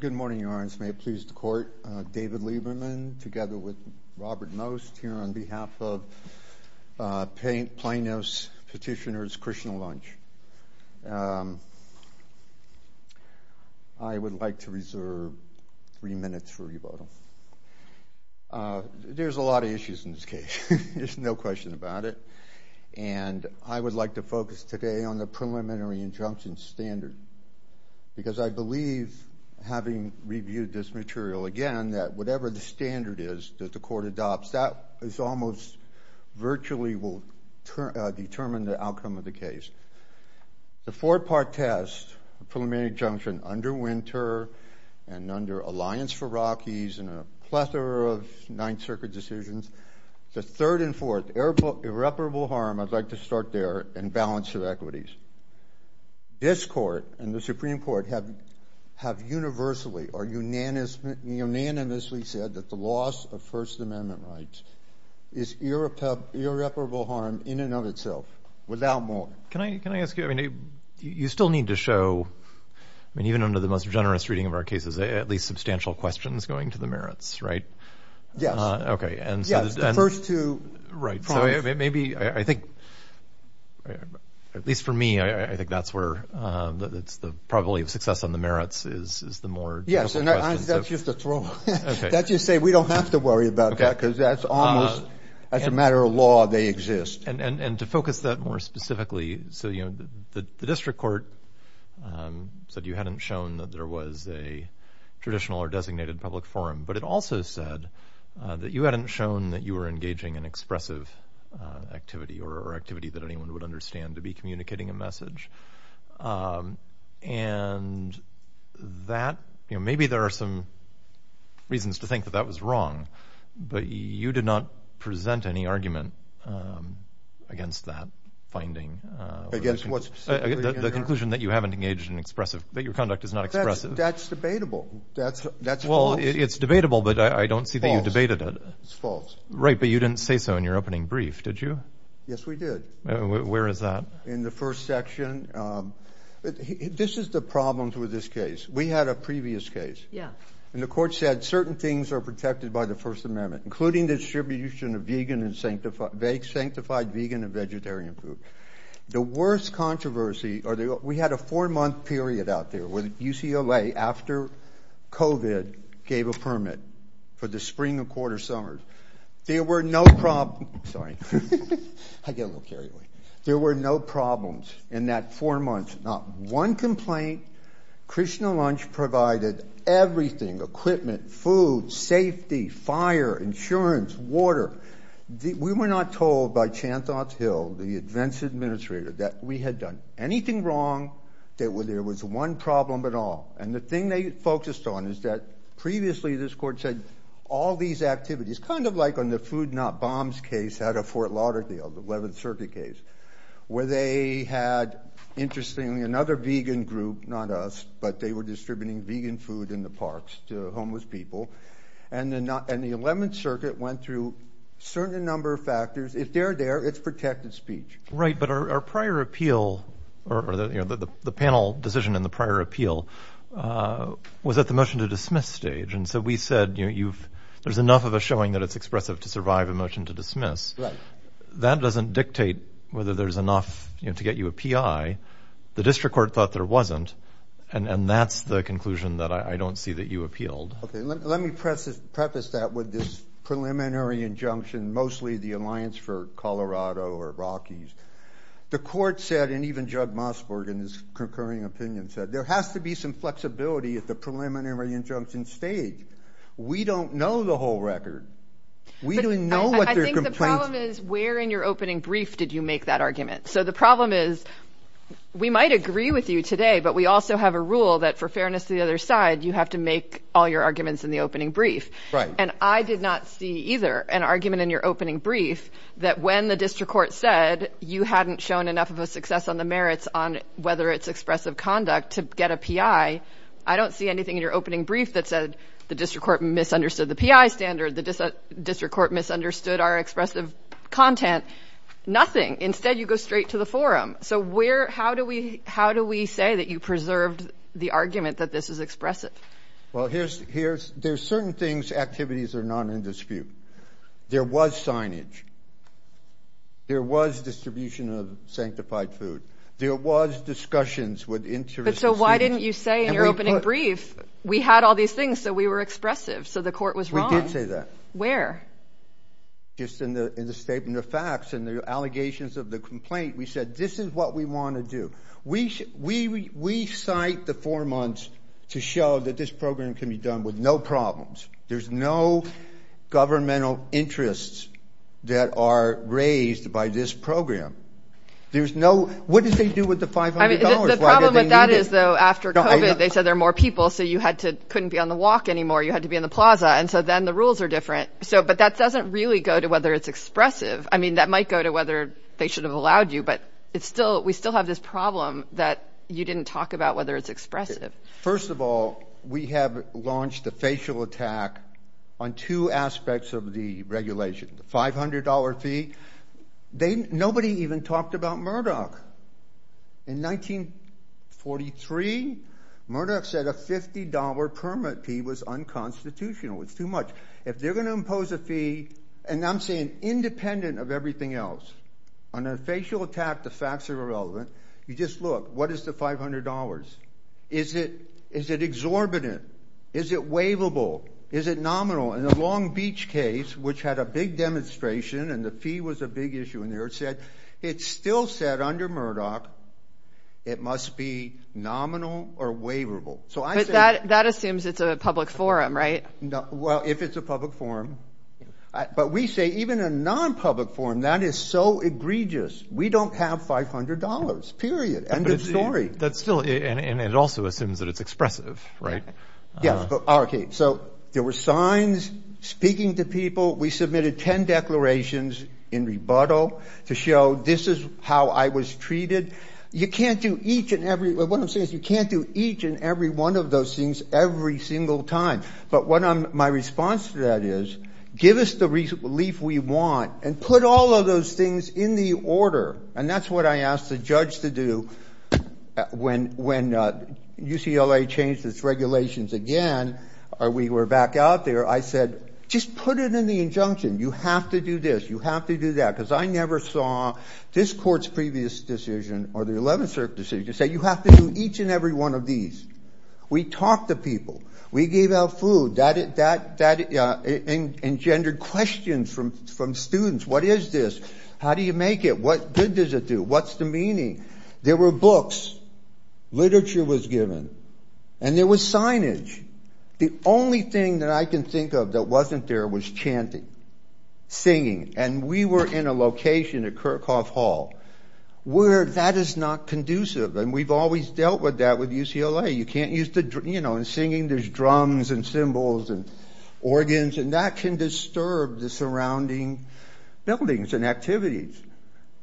Good morning, Your Honor. May it please the Court. David Lieberman, together with Robert Most, here on behalf of Plano's Petitioners' Christian Lunch. I would like to reserve three minutes for revoting. There's a lot of issues in this case. There's no question about it. And I would like to focus today on the preliminary injunction standard, because I believe, having reviewed this material again, that whatever the standard is that the Court adopts, that almost virtually will determine the outcome of the case. The four-part test, the preliminary injunction under Winter and under Alliance for Rockies and a plethora of Ninth Circuit decisions, the third and fourth, irreparable harm, I'd like to start there, in balance of equities. This Court and the Supreme Court have universally or unanimously said that the loss of First Amendment rights is irreparable harm in and of itself, without more. Can I ask you, you still need to show, even under the most generous reading of our cases, at least substantial questions going to the merits, right? Yes, the first two. Right, so maybe, I think, at least for me, I think that's where the probability of success on the merits is the more difficult question. Yes, and that's just a throw. That's just to say, we don't have to worry about that, because that's almost, as a matter of law, they exist. And to focus that more specifically, so the District Court said you hadn't shown that there was a traditional or designated public forum, but it also said that you hadn't shown that you were engaging in expressive activity or activity that anyone would understand to be communicating a message. And that, you know, maybe there are some reasons to think that that was wrong, but you did not present any argument against that finding. Against what specifically? The conclusion that you haven't engaged in expressive, that your conduct is not expressive. That's debatable. That's false. Well, it's debatable, but I don't see that you debated it. It's false. Right, but you didn't say so in your opening brief, did you? Yes, we did. Where is that? In the first section. This is the problem with this case. We had a previous case. Yeah. And the court said certain things are protected by the First Amendment, including the distribution of vegan and sanctified, sanctified vegan and vegetarian food. The worst controversy, or we had a four-month period out there when UCLA, after COVID, gave a permit for the spring and quarter summers. There were no problem. Sorry, I get a little carried away. There were no problems in that four months, not one complaint. Krishna Lunch provided everything, equipment, food, safety, fire, insurance, water. We were not told by Chanthop Hill, the events administrator, that we had done anything wrong, that there was one problem at all. And the thing they focused on is that previously this court said all these activities, kind of like on the Food Not Bombs case out of Fort Lauderdale, the 11th Circuit case, where they had, interestingly, another vegan group, not us, but they were distributing vegan food in the parks to homeless people. And the 11th Circuit went through a certain number of factors. If they're there, it's protected speech. Right. But our prior appeal, or the panel decision in the prior appeal, was at the motion to dismiss stage. And so we said, there's enough of a showing that it's expressive to survive a motion to dismiss. That doesn't dictate whether there's enough to get you a PI. The district court thought there wasn't. And that's the conclusion that I don't see you appealed. Okay. Let me preface that with this preliminary injunction, mostly the Alliance for Colorado or Rockies. The court said, and even Judd Mossberg, in his concurring opinion, said, there has to be some flexibility at the preliminary injunction stage. We don't know the whole record. We don't know what their complaints- I think the problem is, where in your opening brief did you make that argument? So the problem is, we might agree with you today, but we also have a rule that, for fairness to the other side, you have to make all your arguments in the opening brief. And I did not see either an argument in your opening brief that, when the district court said you hadn't shown enough of a success on the merits on whether it's expressive conduct to get a PI, I don't see anything in your opening brief that said the district court misunderstood the PI standard, the district court misunderstood our expressive content. Nothing. Instead, you go straight to the forum. So where, how do we, how do we say that you preserved the argument that this is expressive? Well, here's, here's, there's certain things, activities are not in dispute. There was signage. There was distribution of sanctified food. There was discussions with interests- But so why didn't you say in your opening brief, we had all these things, so we were expressive. So the court was wrong. We did say that. Where? Just in the, in the statement of facts, and the allegations of the complaint, we said, this is what we want to do. We, we, we cite the four months to show that this program can be done with no problems. There's no governmental interests that are raised by this program. There's no, what did they do with the $500? The problem with that is, though, after COVID, they said there are more people, so you had to, couldn't be on the walk anymore. You had to be in the plaza. And so then the rules are different. So, but that doesn't really go to whether it's expressive. I mean, that might go to whether they should have allowed you, but it's still, we still have this problem that you didn't talk about whether it's expressive. First of all, we have launched a facial attack on two aspects of the regulation, the $500 fee. They, nobody even talked about Murdoch. In 1943, Murdoch said a $50 permit fee was unconstitutional. It's too much. If they're impose a fee, and I'm saying independent of everything else, on a facial attack, the facts are irrelevant. You just look, what is the $500? Is it, is it exorbitant? Is it waivable? Is it nominal? In the Long Beach case, which had a big demonstration and the fee was a big issue in there, it said, it still said under Murdoch, it must be nominal or waivable. So I say- But that, that assumes it's a public forum, right? No. Well, if it's a public forum, but we say even a non-public forum, that is so egregious. We don't have $500, period. End of story. That's still, and it also assumes that it's expressive, right? Yes. Okay. So there were signs speaking to people. We submitted 10 declarations in rebuttal to show this is how I was treated. You can't do each and every, what I'm saying is my response to that is, give us the relief we want and put all of those things in the order. And that's what I asked the judge to do when UCLA changed its regulations again, we were back out there, I said, just put it in the injunction. You have to do this, you have to do that. Because I never saw this court's previous decision or the 11th Circuit decision say you have to do each and every one of these. We talked to people, we gave out food, that engendered questions from students. What is this? How do you make it? What good does it do? What's the meaning? There were books, literature was given, and there was signage. The only thing that I can think of that wasn't there was chanting, singing. And we were in a location at Kirchhoff Hall, where that is not conducive. And we've dealt with that with UCLA, you can't use the, you know, and singing, there's drums and cymbals and organs, and that can disturb the surrounding buildings and activities.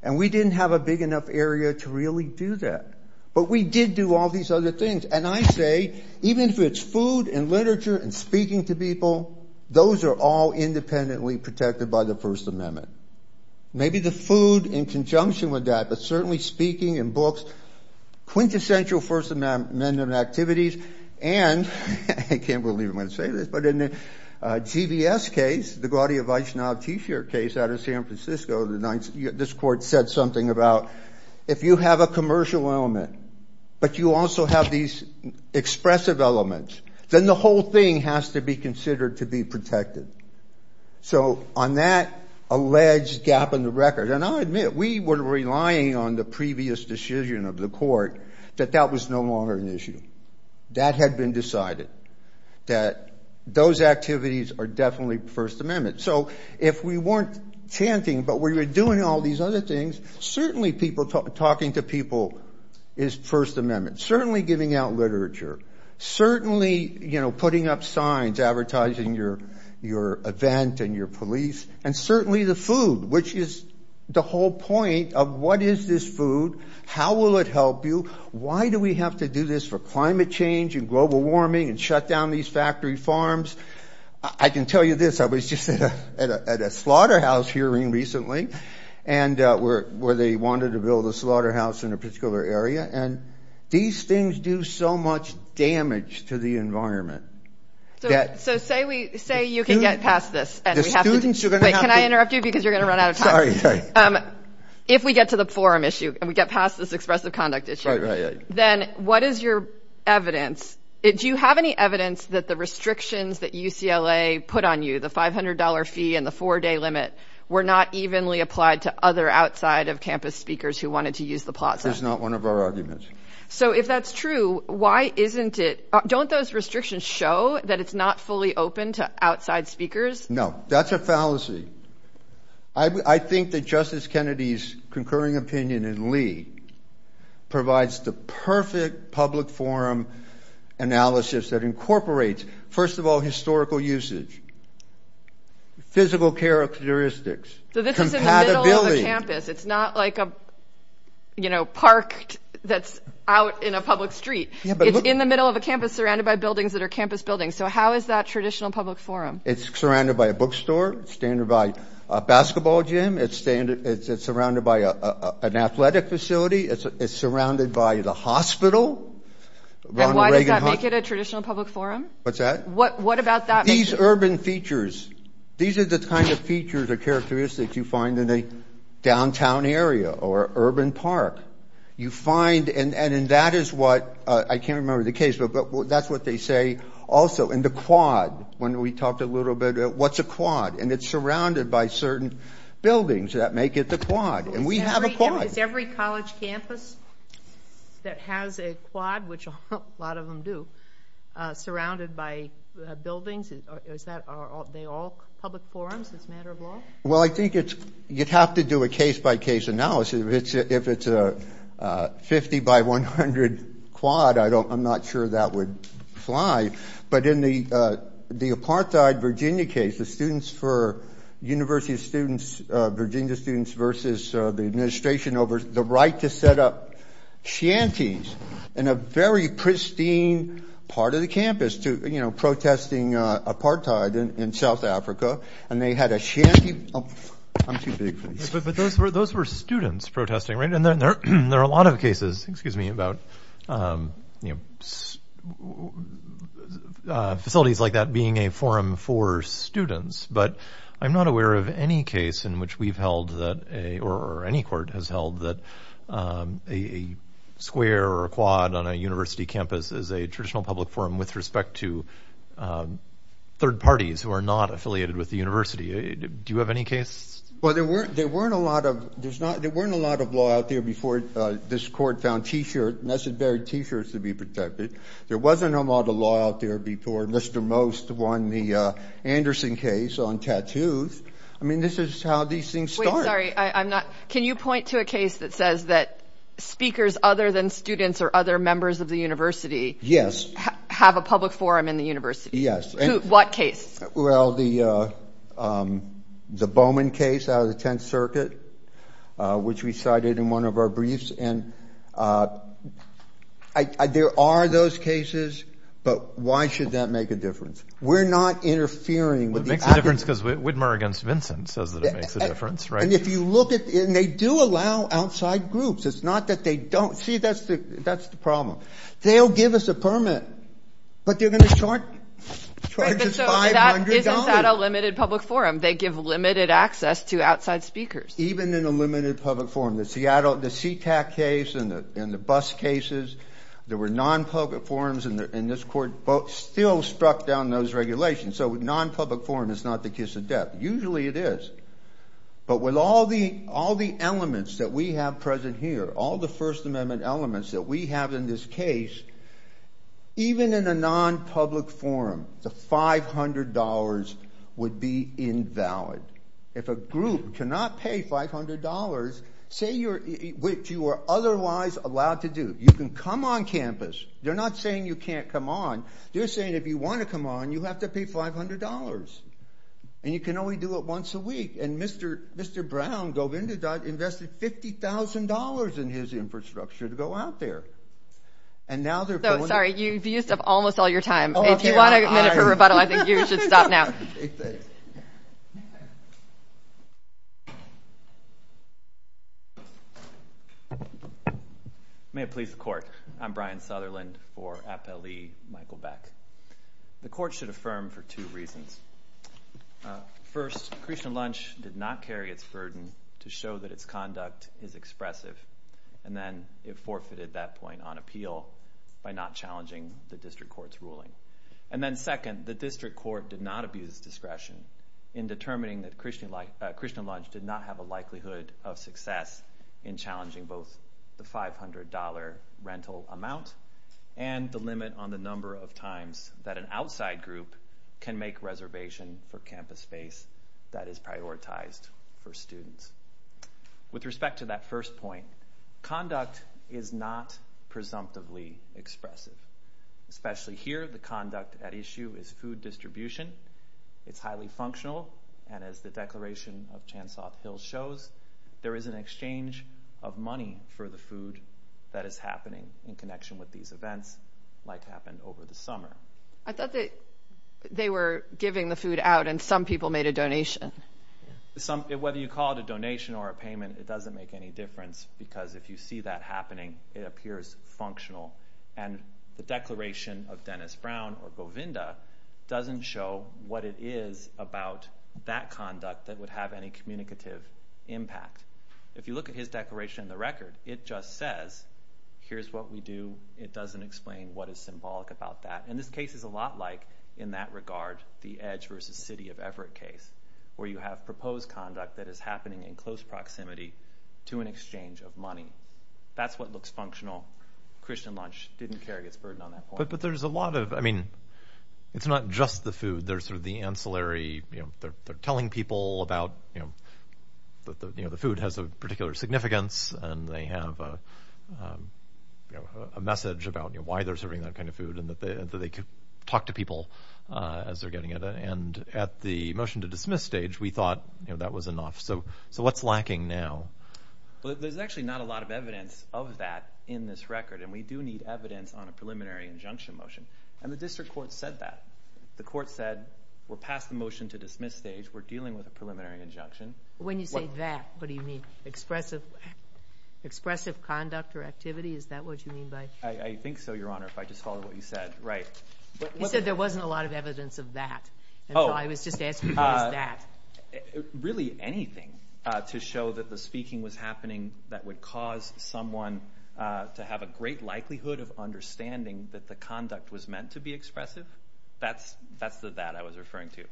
And we didn't have a big enough area to really do that. But we did do all these other things. And I say, even if it's food and literature and speaking to people, those are all independently protected by the First Amendment. Maybe the food in conjunction with that, but certainly speaking and books, quintessential First Amendment activities. And I can't believe I'm going to say this, but in the GBS case, the Gaudi-Vaishnav t-shirt case out of San Francisco, this court said something about, if you have a commercial element, but you also have these expressive elements, then the whole thing has to be considered to be protected. So on that alleged gap in the record, and I'll admit, we were relying on the previous decision of the court, that that was no longer an issue. That had been decided, that those activities are definitely First Amendment. So if we weren't chanting, but we were doing all these other things, certainly people talking to people is First Amendment, certainly giving out literature, certainly putting up signs advertising your event and your police, and certainly the food, which is the whole point of what is this food? How will it help you? Why do we have to do this for climate change and global warming and shut down these factory farms? I can tell you this, I was just at a slaughterhouse hearing recently, where they wanted to build a slaughterhouse in a farm. So say you can get past this. Can I interrupt you? Because you're going to run out of time. If we get to the forum issue and we get past this expressive conduct issue, then what is your evidence? Do you have any evidence that the restrictions that UCLA put on you, the $500 fee and the four-day limit, were not evenly applied to other outside of campus speakers who wanted to use the plaza? It's not one of our arguments. So if that's true, why isn't it? Don't those restrictions show that it's not fully open to outside speakers? No, that's a fallacy. I think that Justice Kennedy's concurring opinion in Lee provides the perfect public forum analysis that incorporates, first of all, historical usage, physical characteristics. So this is in the middle of a campus. It's not like a, you know, park that's out in a public street. It's in the middle of a campus surrounded by buildings that are campus buildings. So how is that traditional public forum? It's surrounded by a bookstore, it's surrounded by a basketball gym, it's surrounded by an athletic facility, it's surrounded by the hospital. And why does that make it a traditional public forum? What's that? What about that? These urban features, these are the kind of features or characteristics you find in a downtown area or urban park. You find, and that is what, I can't remember the case, but that's what they say also. And the quad, when we talked a little bit, what's a quad? And it's surrounded by certain buildings that make it the quad. And we have a quad. Is every college campus that has a quad, which a lot of them do, surrounded by buildings? Is that, are they all public forums as a matter of law? Well, I think it's, you'd have to do a case-by-case analysis. If it's a 50 by 100 quad, I don't, I'm not sure that would fly. But in the apartheid Virginia case, the students for university students, Virginia students versus the administration over the right to set up shanties in a very pristine part of the campus to, you know, protesting apartheid in South Africa. And they had a shanty. I'm too big for this. But those were, those were students protesting, right? And there are a lot of cases, excuse me, about, you know, facilities like that being a forum for students. But I'm not aware of any case in which we've held that a, or any court has held that a square or a quad on a university campus is a traditional public forum with respect to third parties who are not affiliated with the university. Do you have any case? Well, there weren't, there weren't a lot of, there's not, there weren't a lot of law out there before this court found t-shirt, necessary t-shirts to be protected. There wasn't a lot of law out there before Mr. Most won the Anderson case on tattoos. I mean, this is how these things start. Can you point to a case that says that speakers other than students or other members of the university have a public forum in the university? Yes. What case? Well, the Bowman case out of the 10th circuit, which we cited in one of our briefs. And there are those cases, but why should that make a difference? We're not interfering. It makes a difference because Whitmer against Vincent says that it makes a difference, right? And if you look at it and they do allow outside groups, it's not that they don't see that's the, that's the problem. They'll give us a permit, but they're going to charge, charge us $500. Isn't that a limited public forum? They give limited access to outside speakers. Even in a limited public forum, the Seattle, the SeaTac case and the, and the bus cases, there were non-public forums in the, in this court, both still struck down those regulations. So non-public forum is not the kiss of death. Usually it is, but with all the, all the elements that we have present here, all the first amendment elements that we have in this case, even in a non-public forum, the $500 would be invalid. If a group cannot pay $500, say you're, which you are otherwise allowed to do. You can come on campus. They're not saying you can't come on. They're saying, if you want to come on, you have to pay $500 and you can only do it once a week. And Mr. Mr. Brown dove into that, invested $50,000 in his infrastructure to go out there. And now they're. Sorry, you used up almost all your time. If you want a minute for rebuttal, I think you should stop now. May it please the court. I'm Brian Sutherland for Appellee Michael Beck. The court should affirm for two reasons. First Christian lunch did not carry its burden to show that its conduct is expressive. And then it forfeited that point on appeal by not challenging the district court's ruling. And then second, the district court did not abuse discretion in determining that Christian Christian lunch did not have a likelihood of and the limit on the number of times that an outside group can make reservation for campus space that is prioritized for students. With respect to that first point, conduct is not presumptively expressive, especially here. The conduct at issue is food distribution. It's highly functional. And as the declaration of chance off hill shows, there is an exchange of money for the food that is happening in connection with these events like happened over the summer. I thought that they were giving the food out and some people made a donation. Some, whether you call it a donation or a payment, it doesn't make any difference because if you see that happening, it appears functional. And the declaration of Dennis Brown or Bovinda doesn't show what it is about that conduct that would have any communicative impact. If you look at his declaration in the record, it just says, here's what we do. It doesn't explain what is symbolic about that. And this case is a lot like in that regard, the edge versus city of Everett case where you have proposed conduct that is happening in close proximity to an exchange of money. That's what looks functional. Christian lunch didn't carry its burden on that point. But there's a lot of, I mean, it's not just the food. There's sort of ancillary, you know, they're telling people about, you know, the food has a particular significance and they have a message about why they're serving that kind of food and that they could talk to people as they're getting it. And at the motion to dismiss stage, we thought that was enough. So what's lacking now? Well, there's actually not a lot of evidence of that in this record. And we do need evidence on a preliminary injunction motion. And the district court said that the court said we're past the motion to dismiss stage. We're dealing with a preliminary injunction. When you say that, what do you mean expressive, expressive conduct or activity? Is that what you mean by, I think so. Your honor, if I just follow what you said, right. You said there wasn't a lot of evidence of that. And so I was just asking that really anything to show that the speaking was happening that would cause someone to have a great likelihood of understanding that the conduct was meant to be expressive. That's the that I was referring to.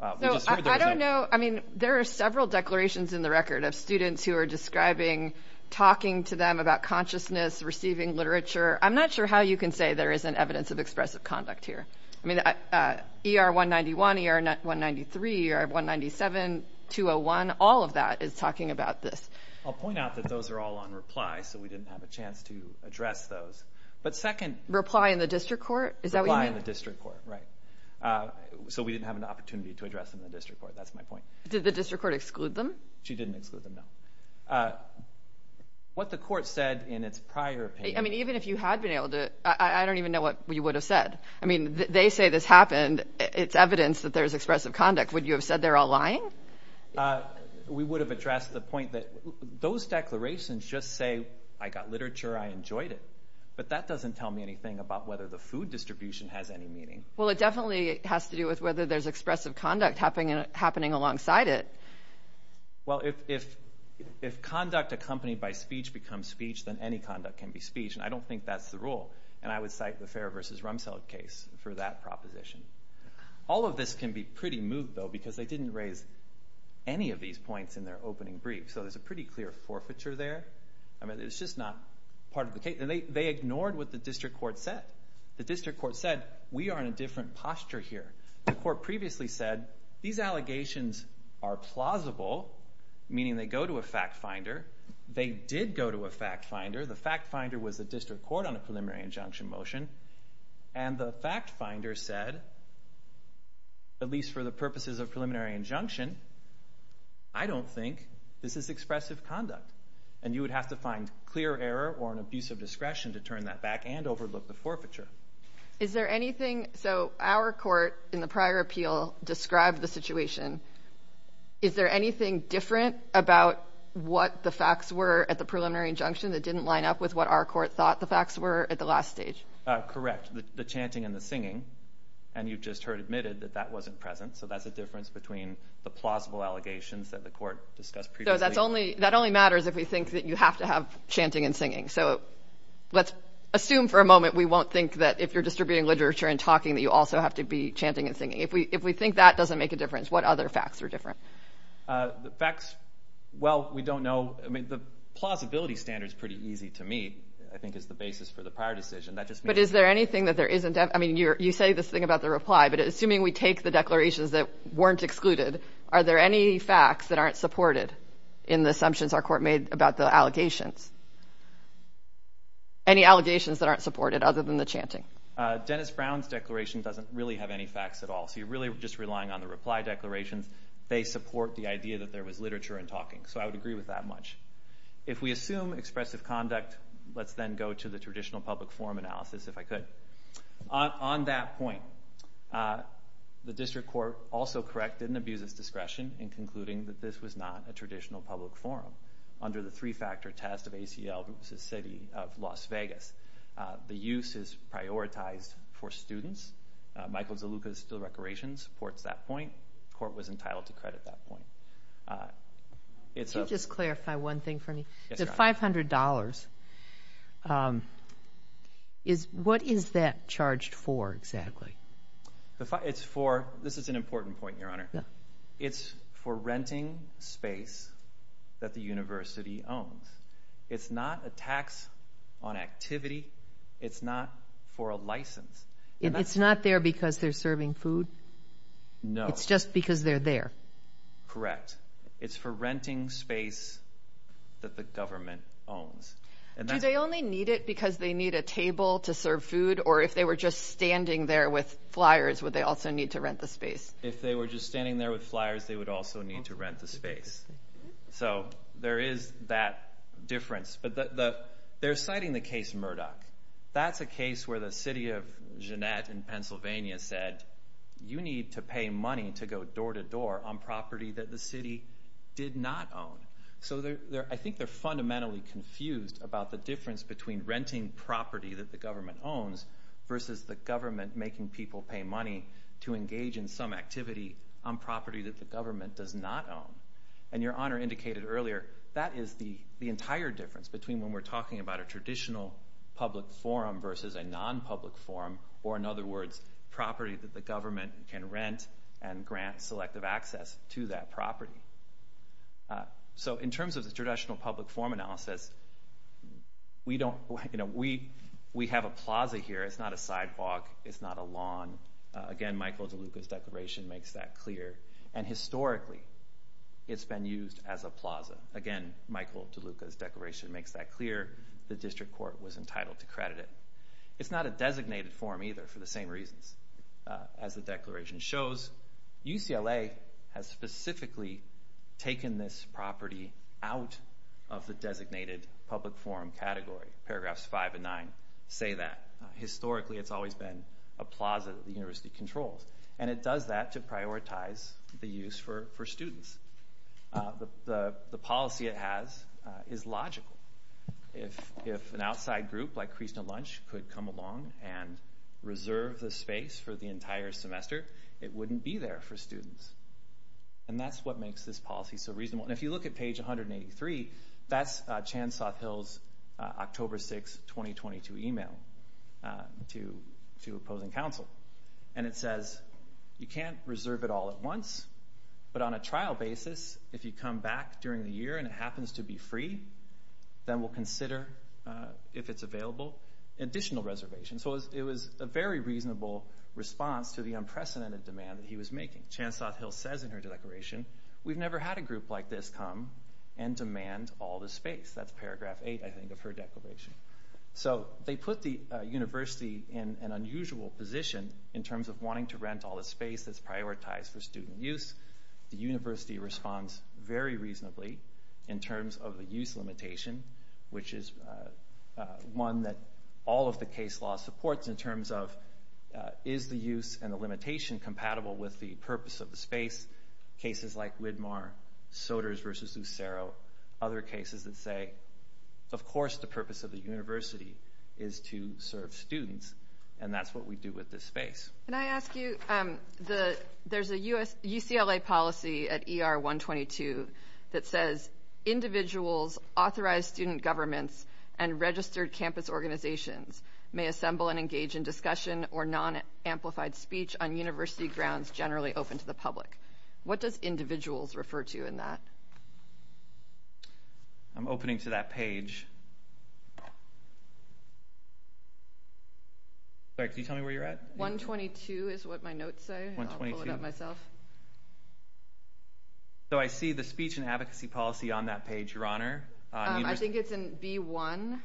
So I don't know. I mean, there are several declarations in the record of students who are describing, talking to them about consciousness, receiving literature. I'm not sure how you can say there isn't evidence of expressive conduct here. I mean, ER 191, ER 193, ER 197, 201, all of that is talking about this. I'll point out that those are all on reply. So we didn't have a chance to address those. But second reply in the district court. Is that why in the district court? Right. So we didn't have an opportunity to address them in the district court. That's my point. Did the district court exclude them? She didn't exclude them. What the court said in its prior opinion, I mean, even if you had been able to, I don't even know what you would have said. I mean, they say this happened. It's evidence that there's expressive conduct. Would you have said they're all lying? We would have addressed the point that those declarations just say I got literature. I enjoyed it. But that doesn't tell me anything about whether the food distribution has any meaning. Well, it definitely has to do with whether there's expressive conduct happening alongside it. Well, if conduct accompanied by speech becomes speech, then any conduct can be speech. And I don't think that's the rule. And I would cite the Fair v. Rumsfeld case for that proposition. All of this can be pretty moved, though, because they didn't raise any of these points in their opening brief. So there's a pretty clear forfeiture there. I mean, it's just not part of the case. They ignored what the district court said. The district court said, we are in a different posture here. The court previously said, these allegations are plausible, meaning they go to a fact finder. They did go to a fact finder. The fact finder was the district court on a preliminary injunction motion. And the fact finder said, at least for the purposes of preliminary injunction, I don't think this is expressive conduct. And you would have to find clear error or an abuse of discretion to turn that back and overlook the forfeiture. So our court in the prior appeal described the situation. Is there anything different about what the facts were at the preliminary injunction that didn't line up with what our court thought the facts were at the last stage? Correct, the chanting and the singing. And you've just heard admitted that that wasn't present. So that's between the plausible allegations that the court discussed. That's only that only matters if we think that you have to have chanting and singing. So let's assume for a moment we won't think that if you're distributing literature and talking that you also have to be chanting and singing. If we if we think that doesn't make a difference, what other facts are different? The facts? Well, we don't know. I mean, the plausibility standards pretty easy to me, I think, is the basis for the prior decision. But is there anything that there isn't? I mean, you say this thing about the reply, but assuming we take the declarations that weren't excluded, are there any facts that aren't supported in the assumptions our court made about the allegations? Any allegations that aren't supported other than the chanting? Dennis Brown's declaration doesn't really have any facts at all. So you're really just relying on the reply declarations. They support the idea that there was literature and talking. So I would agree with that much. If we assume expressive conduct, let's then go to the traditional public forum analysis, if I could. On that point, the district court also corrected and abused its discretion in concluding that this was not a traditional public forum under the three-factor test of ACL versus City of Las Vegas. The use is prioritized for students. Michael Zaluka's Still Recreation supports that point. Court was entitled to credit that point. Could you just clarify one thing for me? The $500, what is that charged for exactly? This is an important point, Your Honor. It's for renting space that the university owns. It's not a tax on activity. It's not for a license. It's not there because they're serving food? No. It's just because they're there? Correct. It's for renting space that the government owns. Do they only need it because they need a table to serve food? Or if they were just standing there with flyers, would they also need to rent the space? If they were just standing there with flyers, they would also need to rent the space. So there is that difference. But they're citing the case Murdoch. That's a case where the City of Jeannette in Pennsylvania said, you need to pay money to go door to door on property that the city did not own. So I think they're fundamentally confused about the difference between renting property that the government owns versus the government making people pay money to engage in some activity on property that the government does not own. And Your Honor indicated earlier, that is the entire difference between we're talking about a traditional public forum versus a non-public forum, or in other words, property that the government can rent and grant selective access to that property. So in terms of the traditional public forum analysis, we have a plaza here. It's not a sidewalk. It's not a lawn. Again, Michael DeLuca's declaration makes that clear. And historically, it's been used as a plaza. Again, Michael DeLuca's declaration makes that clear. The district court was entitled to credit it. It's not a designated forum either for the same reasons. As the declaration shows, UCLA has specifically taken this property out of the designated public forum category. Paragraphs 5 and 9 say that. Historically, it's always been a plaza that the university has reserved for students. The policy it has is logical. If an outside group like Krishna Lunch could come along and reserve the space for the entire semester, it wouldn't be there for students. And that's what makes this policy so reasonable. And if you look at page 183, that's Chan-Sothill's October 6, 2022 email to opposing counsel. And it says, you can't reserve it all at once. But on a trial basis, if you come back during the year and it happens to be free, then we'll consider, if it's available, additional reservation. So it was a very reasonable response to the unprecedented demand that he was making. Chan-Sothill says in her declaration, we've never had a group like this come and demand all the space. That's paragraph 8, I think, of her declaration. So they put the university in an unusual position in terms of all the space that's prioritized for student use. The university responds very reasonably in terms of the use limitation, which is one that all of the case law supports in terms of is the use and the limitation compatible with the purpose of the space? Cases like Widmar, Soders versus Lucero, other cases that say, of course, the purpose of the space. There's a UCLA policy at ER 122 that says, individuals, authorized student governments, and registered campus organizations may assemble and engage in discussion or non-amplified speech on university grounds generally open to the public. What does individuals refer to in that? I'm opening to that page. Sorry, can you tell me where you're at? 122 is what my notes say, and I'll pull it up myself. So I see the speech and advocacy policy on that page, your honor. I think it's in B1.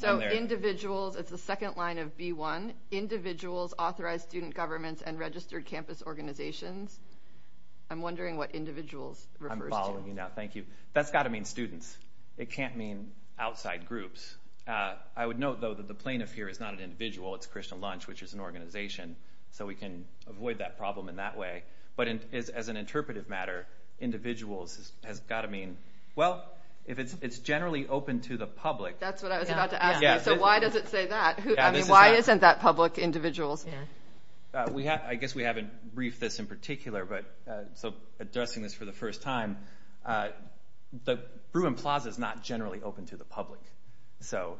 So individuals, it's the second line of B1. Individuals, authorized student governments, and registered campus organizations. I'm wondering what individuals refers to. That's got to mean students. It can't mean outside groups. I would note, though, that the plaintiff here is not an individual. It's Krishna Lunch, which is an organization, so we can avoid that problem in that way. But as an interpretive matter, individuals has got to mean, well, if it's generally open to the public. That's what I was about to ask you. So why does it say that? I mean, why isn't that public individuals? We have, I guess we haven't briefed this in particular, but so addressing this for the first time, the Bruin Plaza is not generally open to the public. So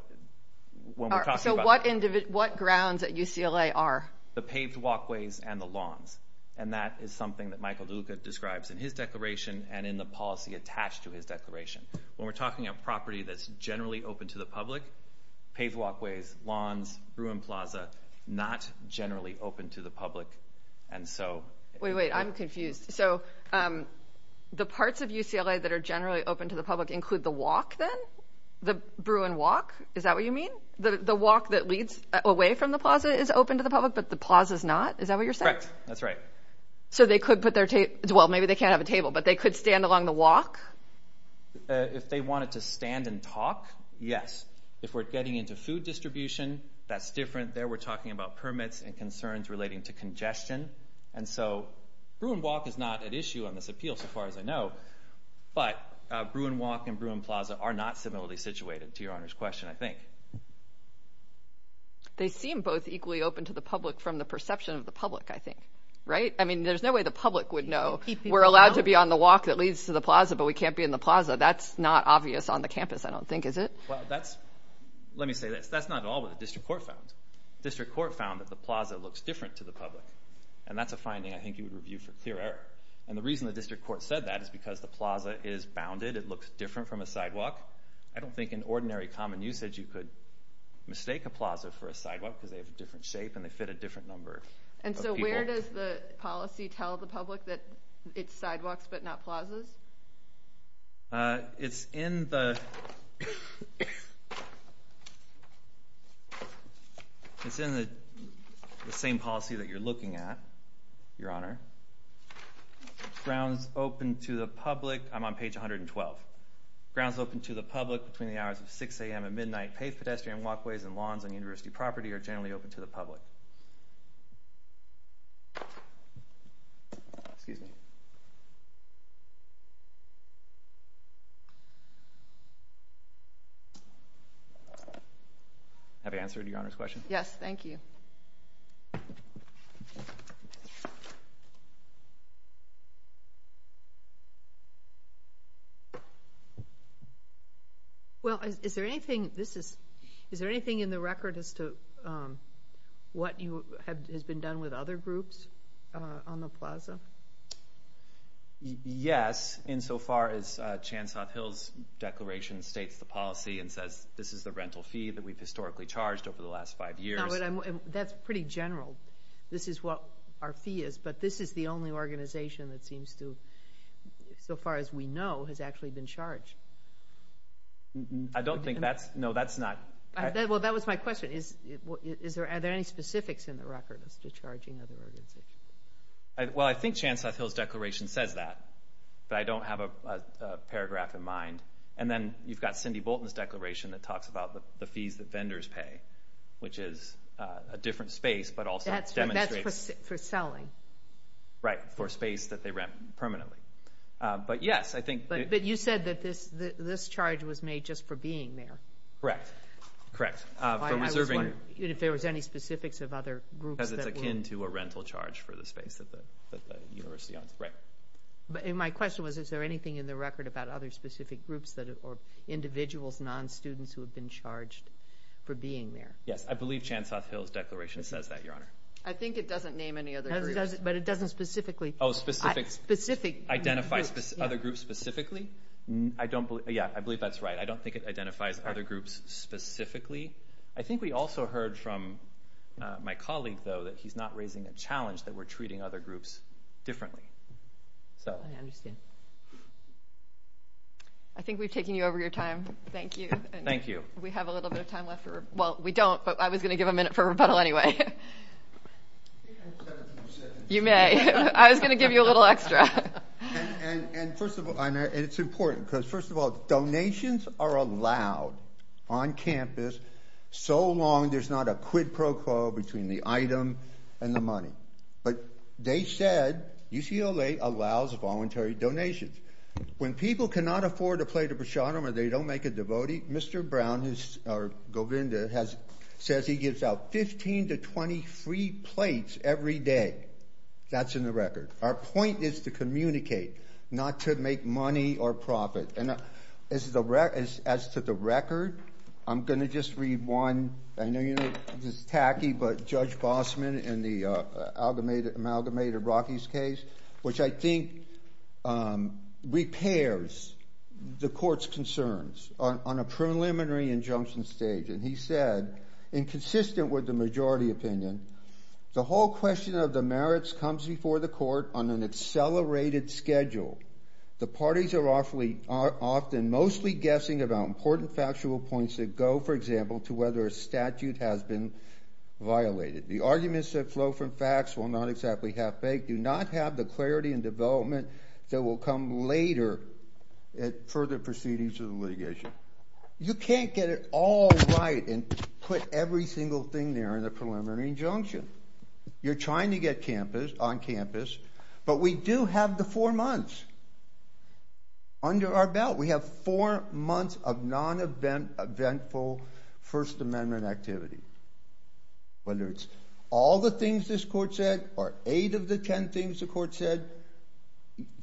when we're talking about- All right, so what grounds at UCLA are? The paved walkways and the lawns. And that is something that Michael Luca describes in his declaration and in the policy attached to his declaration. When we're talking about property that's generally open to the public, paved walkways, lawns, Bruin Plaza, not generally open to the public. And so- Wait, wait, I'm confused. So the parts of UCLA that are generally open to the public include the walk then? The Bruin walk? Is that what you mean? The walk that leads away from the plaza is open to the public, but the plaza is not? Is that what you're saying? Correct. That's right. So they could put their table, well, maybe they can't have a table, but they could stand along the walk? If they wanted to stand and talk, yes. If we're getting into food distribution, that's different. There we're talking about permits and concerns relating to congestion. And so Bruin walk is not at issue on this appeal so far as I know, but Bruin walk and Bruin Plaza are not similarly situated to your Honor's question, I think. They seem both equally open to the public from the perception of the public, I think, right? I mean, there's no way the public would know. We're allowed to be on the walk that leads to the plaza, but we can't be in the plaza. That's not obvious on the campus, I don't think, is it? Well, that's, let me say this. That's not at all what the district court found. The district court found that the plaza looks different to the public. And that's a finding I think you would review for theory. And the reason the district court said that is because the plaza is bounded. It looks different from a sidewalk. I don't think in ordinary common usage, you could mistake a plaza for a sidewalk because they have a different shape and they fit a different number of people. And so where does the policy tell the public that it's sidewalks but not plazas? It's in the same policy that you're looking at, Your Honor. Grounds open to the public, I'm on page 112. Grounds open to the public between the hours of 6 a.m. and midnight, paved pedestrian walkways and lawns on university property are generally open to the public. Excuse me. Have I answered Your Honor's question? Yes, thank you. Well, is there anything, is there anything in the record as to what has been done with other groups on the plaza? Yes, insofar as Chansop Hill's declaration states the policy and says this is the rental fee that we've historically charged over the last five years. That's pretty general. This is what our fee is, but this is the only organization that seems to, so far as we know, has actually been charged. I don't think that's, no, that's not. Well, that was my question. Are there any specifics in the record as to charging other organizations? Well, I think Chansop Hill's declaration says that, but I don't have a paragraph in mind. And then you've got Cindy Bolton's declaration that talks about the fees that vendors pay, which is a different space, but also demonstrates. That's for selling. Right, for space that they rent permanently. But yes, I think. But you said that this charge was made just for being there. Correct, correct. If there was any specifics of other groups. Because it's akin to a rental charge for the space that the university owns. Right. But my question was, is there anything in the record about other specific groups or individuals, non-students who have been charged for being there? Yes, I believe Chansop Hill's declaration says that, Your Honor. I think it doesn't name any other groups. But it doesn't specifically. Oh, specific. Specific. Identify other groups specifically. I don't believe, yeah, I believe that's right. I don't think it identifies other groups specifically. I think we also heard from my colleague, though, that he's not raising a challenge that we're treating other groups differently. I understand. I think we've taken you over your time. Thank you. Thank you. We have a little bit of time left. Well, we don't, but I was going to give a minute for rebuttal anyway. You may. I was going to give you a little extra. And first of all, it's important because first of all, donations are allowed on campus so long there's not a quid pro quo between the item and the money. But they said UCLA allows voluntary donations. When people cannot afford a plate of prasadam or they don't make a devotee, Mr. Brown, or Govinda, says he gives out 15 to 20 free plates every day. That's in the record. Our point is to communicate, not to make money or profit. And as to the record, I'm going to just read one. I know this is tacky, but Judge Bosman in the amalgamated Rockies case, which I think repairs the court's concerns on a preliminary injunction stage. And he said, inconsistent with the majority opinion, the whole question of the are often mostly guessing about important factual points that go, for example, to whether a statute has been violated. The arguments that flow from facts will not exactly have faith, do not have the clarity and development that will come later at further proceedings of the litigation. You can't get it all right and put every single thing there in the preliminary injunction. You're trying to get on campus, but we do have the four months under our belt. We have four months of non-eventful First Amendment activity. Whether it's all the things this court said or eight of the ten things the court said,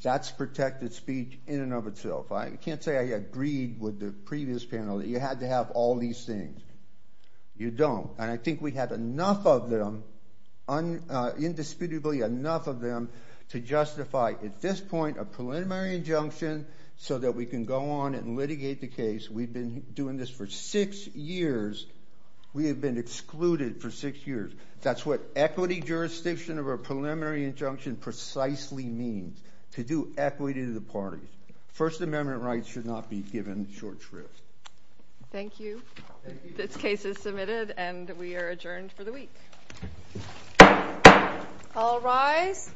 that's protected speech in and of itself. I can't say I agreed with the previous panel that you had to have all these things. You don't. And I think we have enough of them indisputably enough of them to justify at this point a preliminary injunction so that we can go on and litigate the case. We've been doing this for six years. We have been excluded for six years. That's what equity jurisdiction of a preliminary injunction precisely means, to do equity to the party. First Amendment rights should not be given short shrift. Thank you. This case is submitted and we are adjourned for the week. All rise.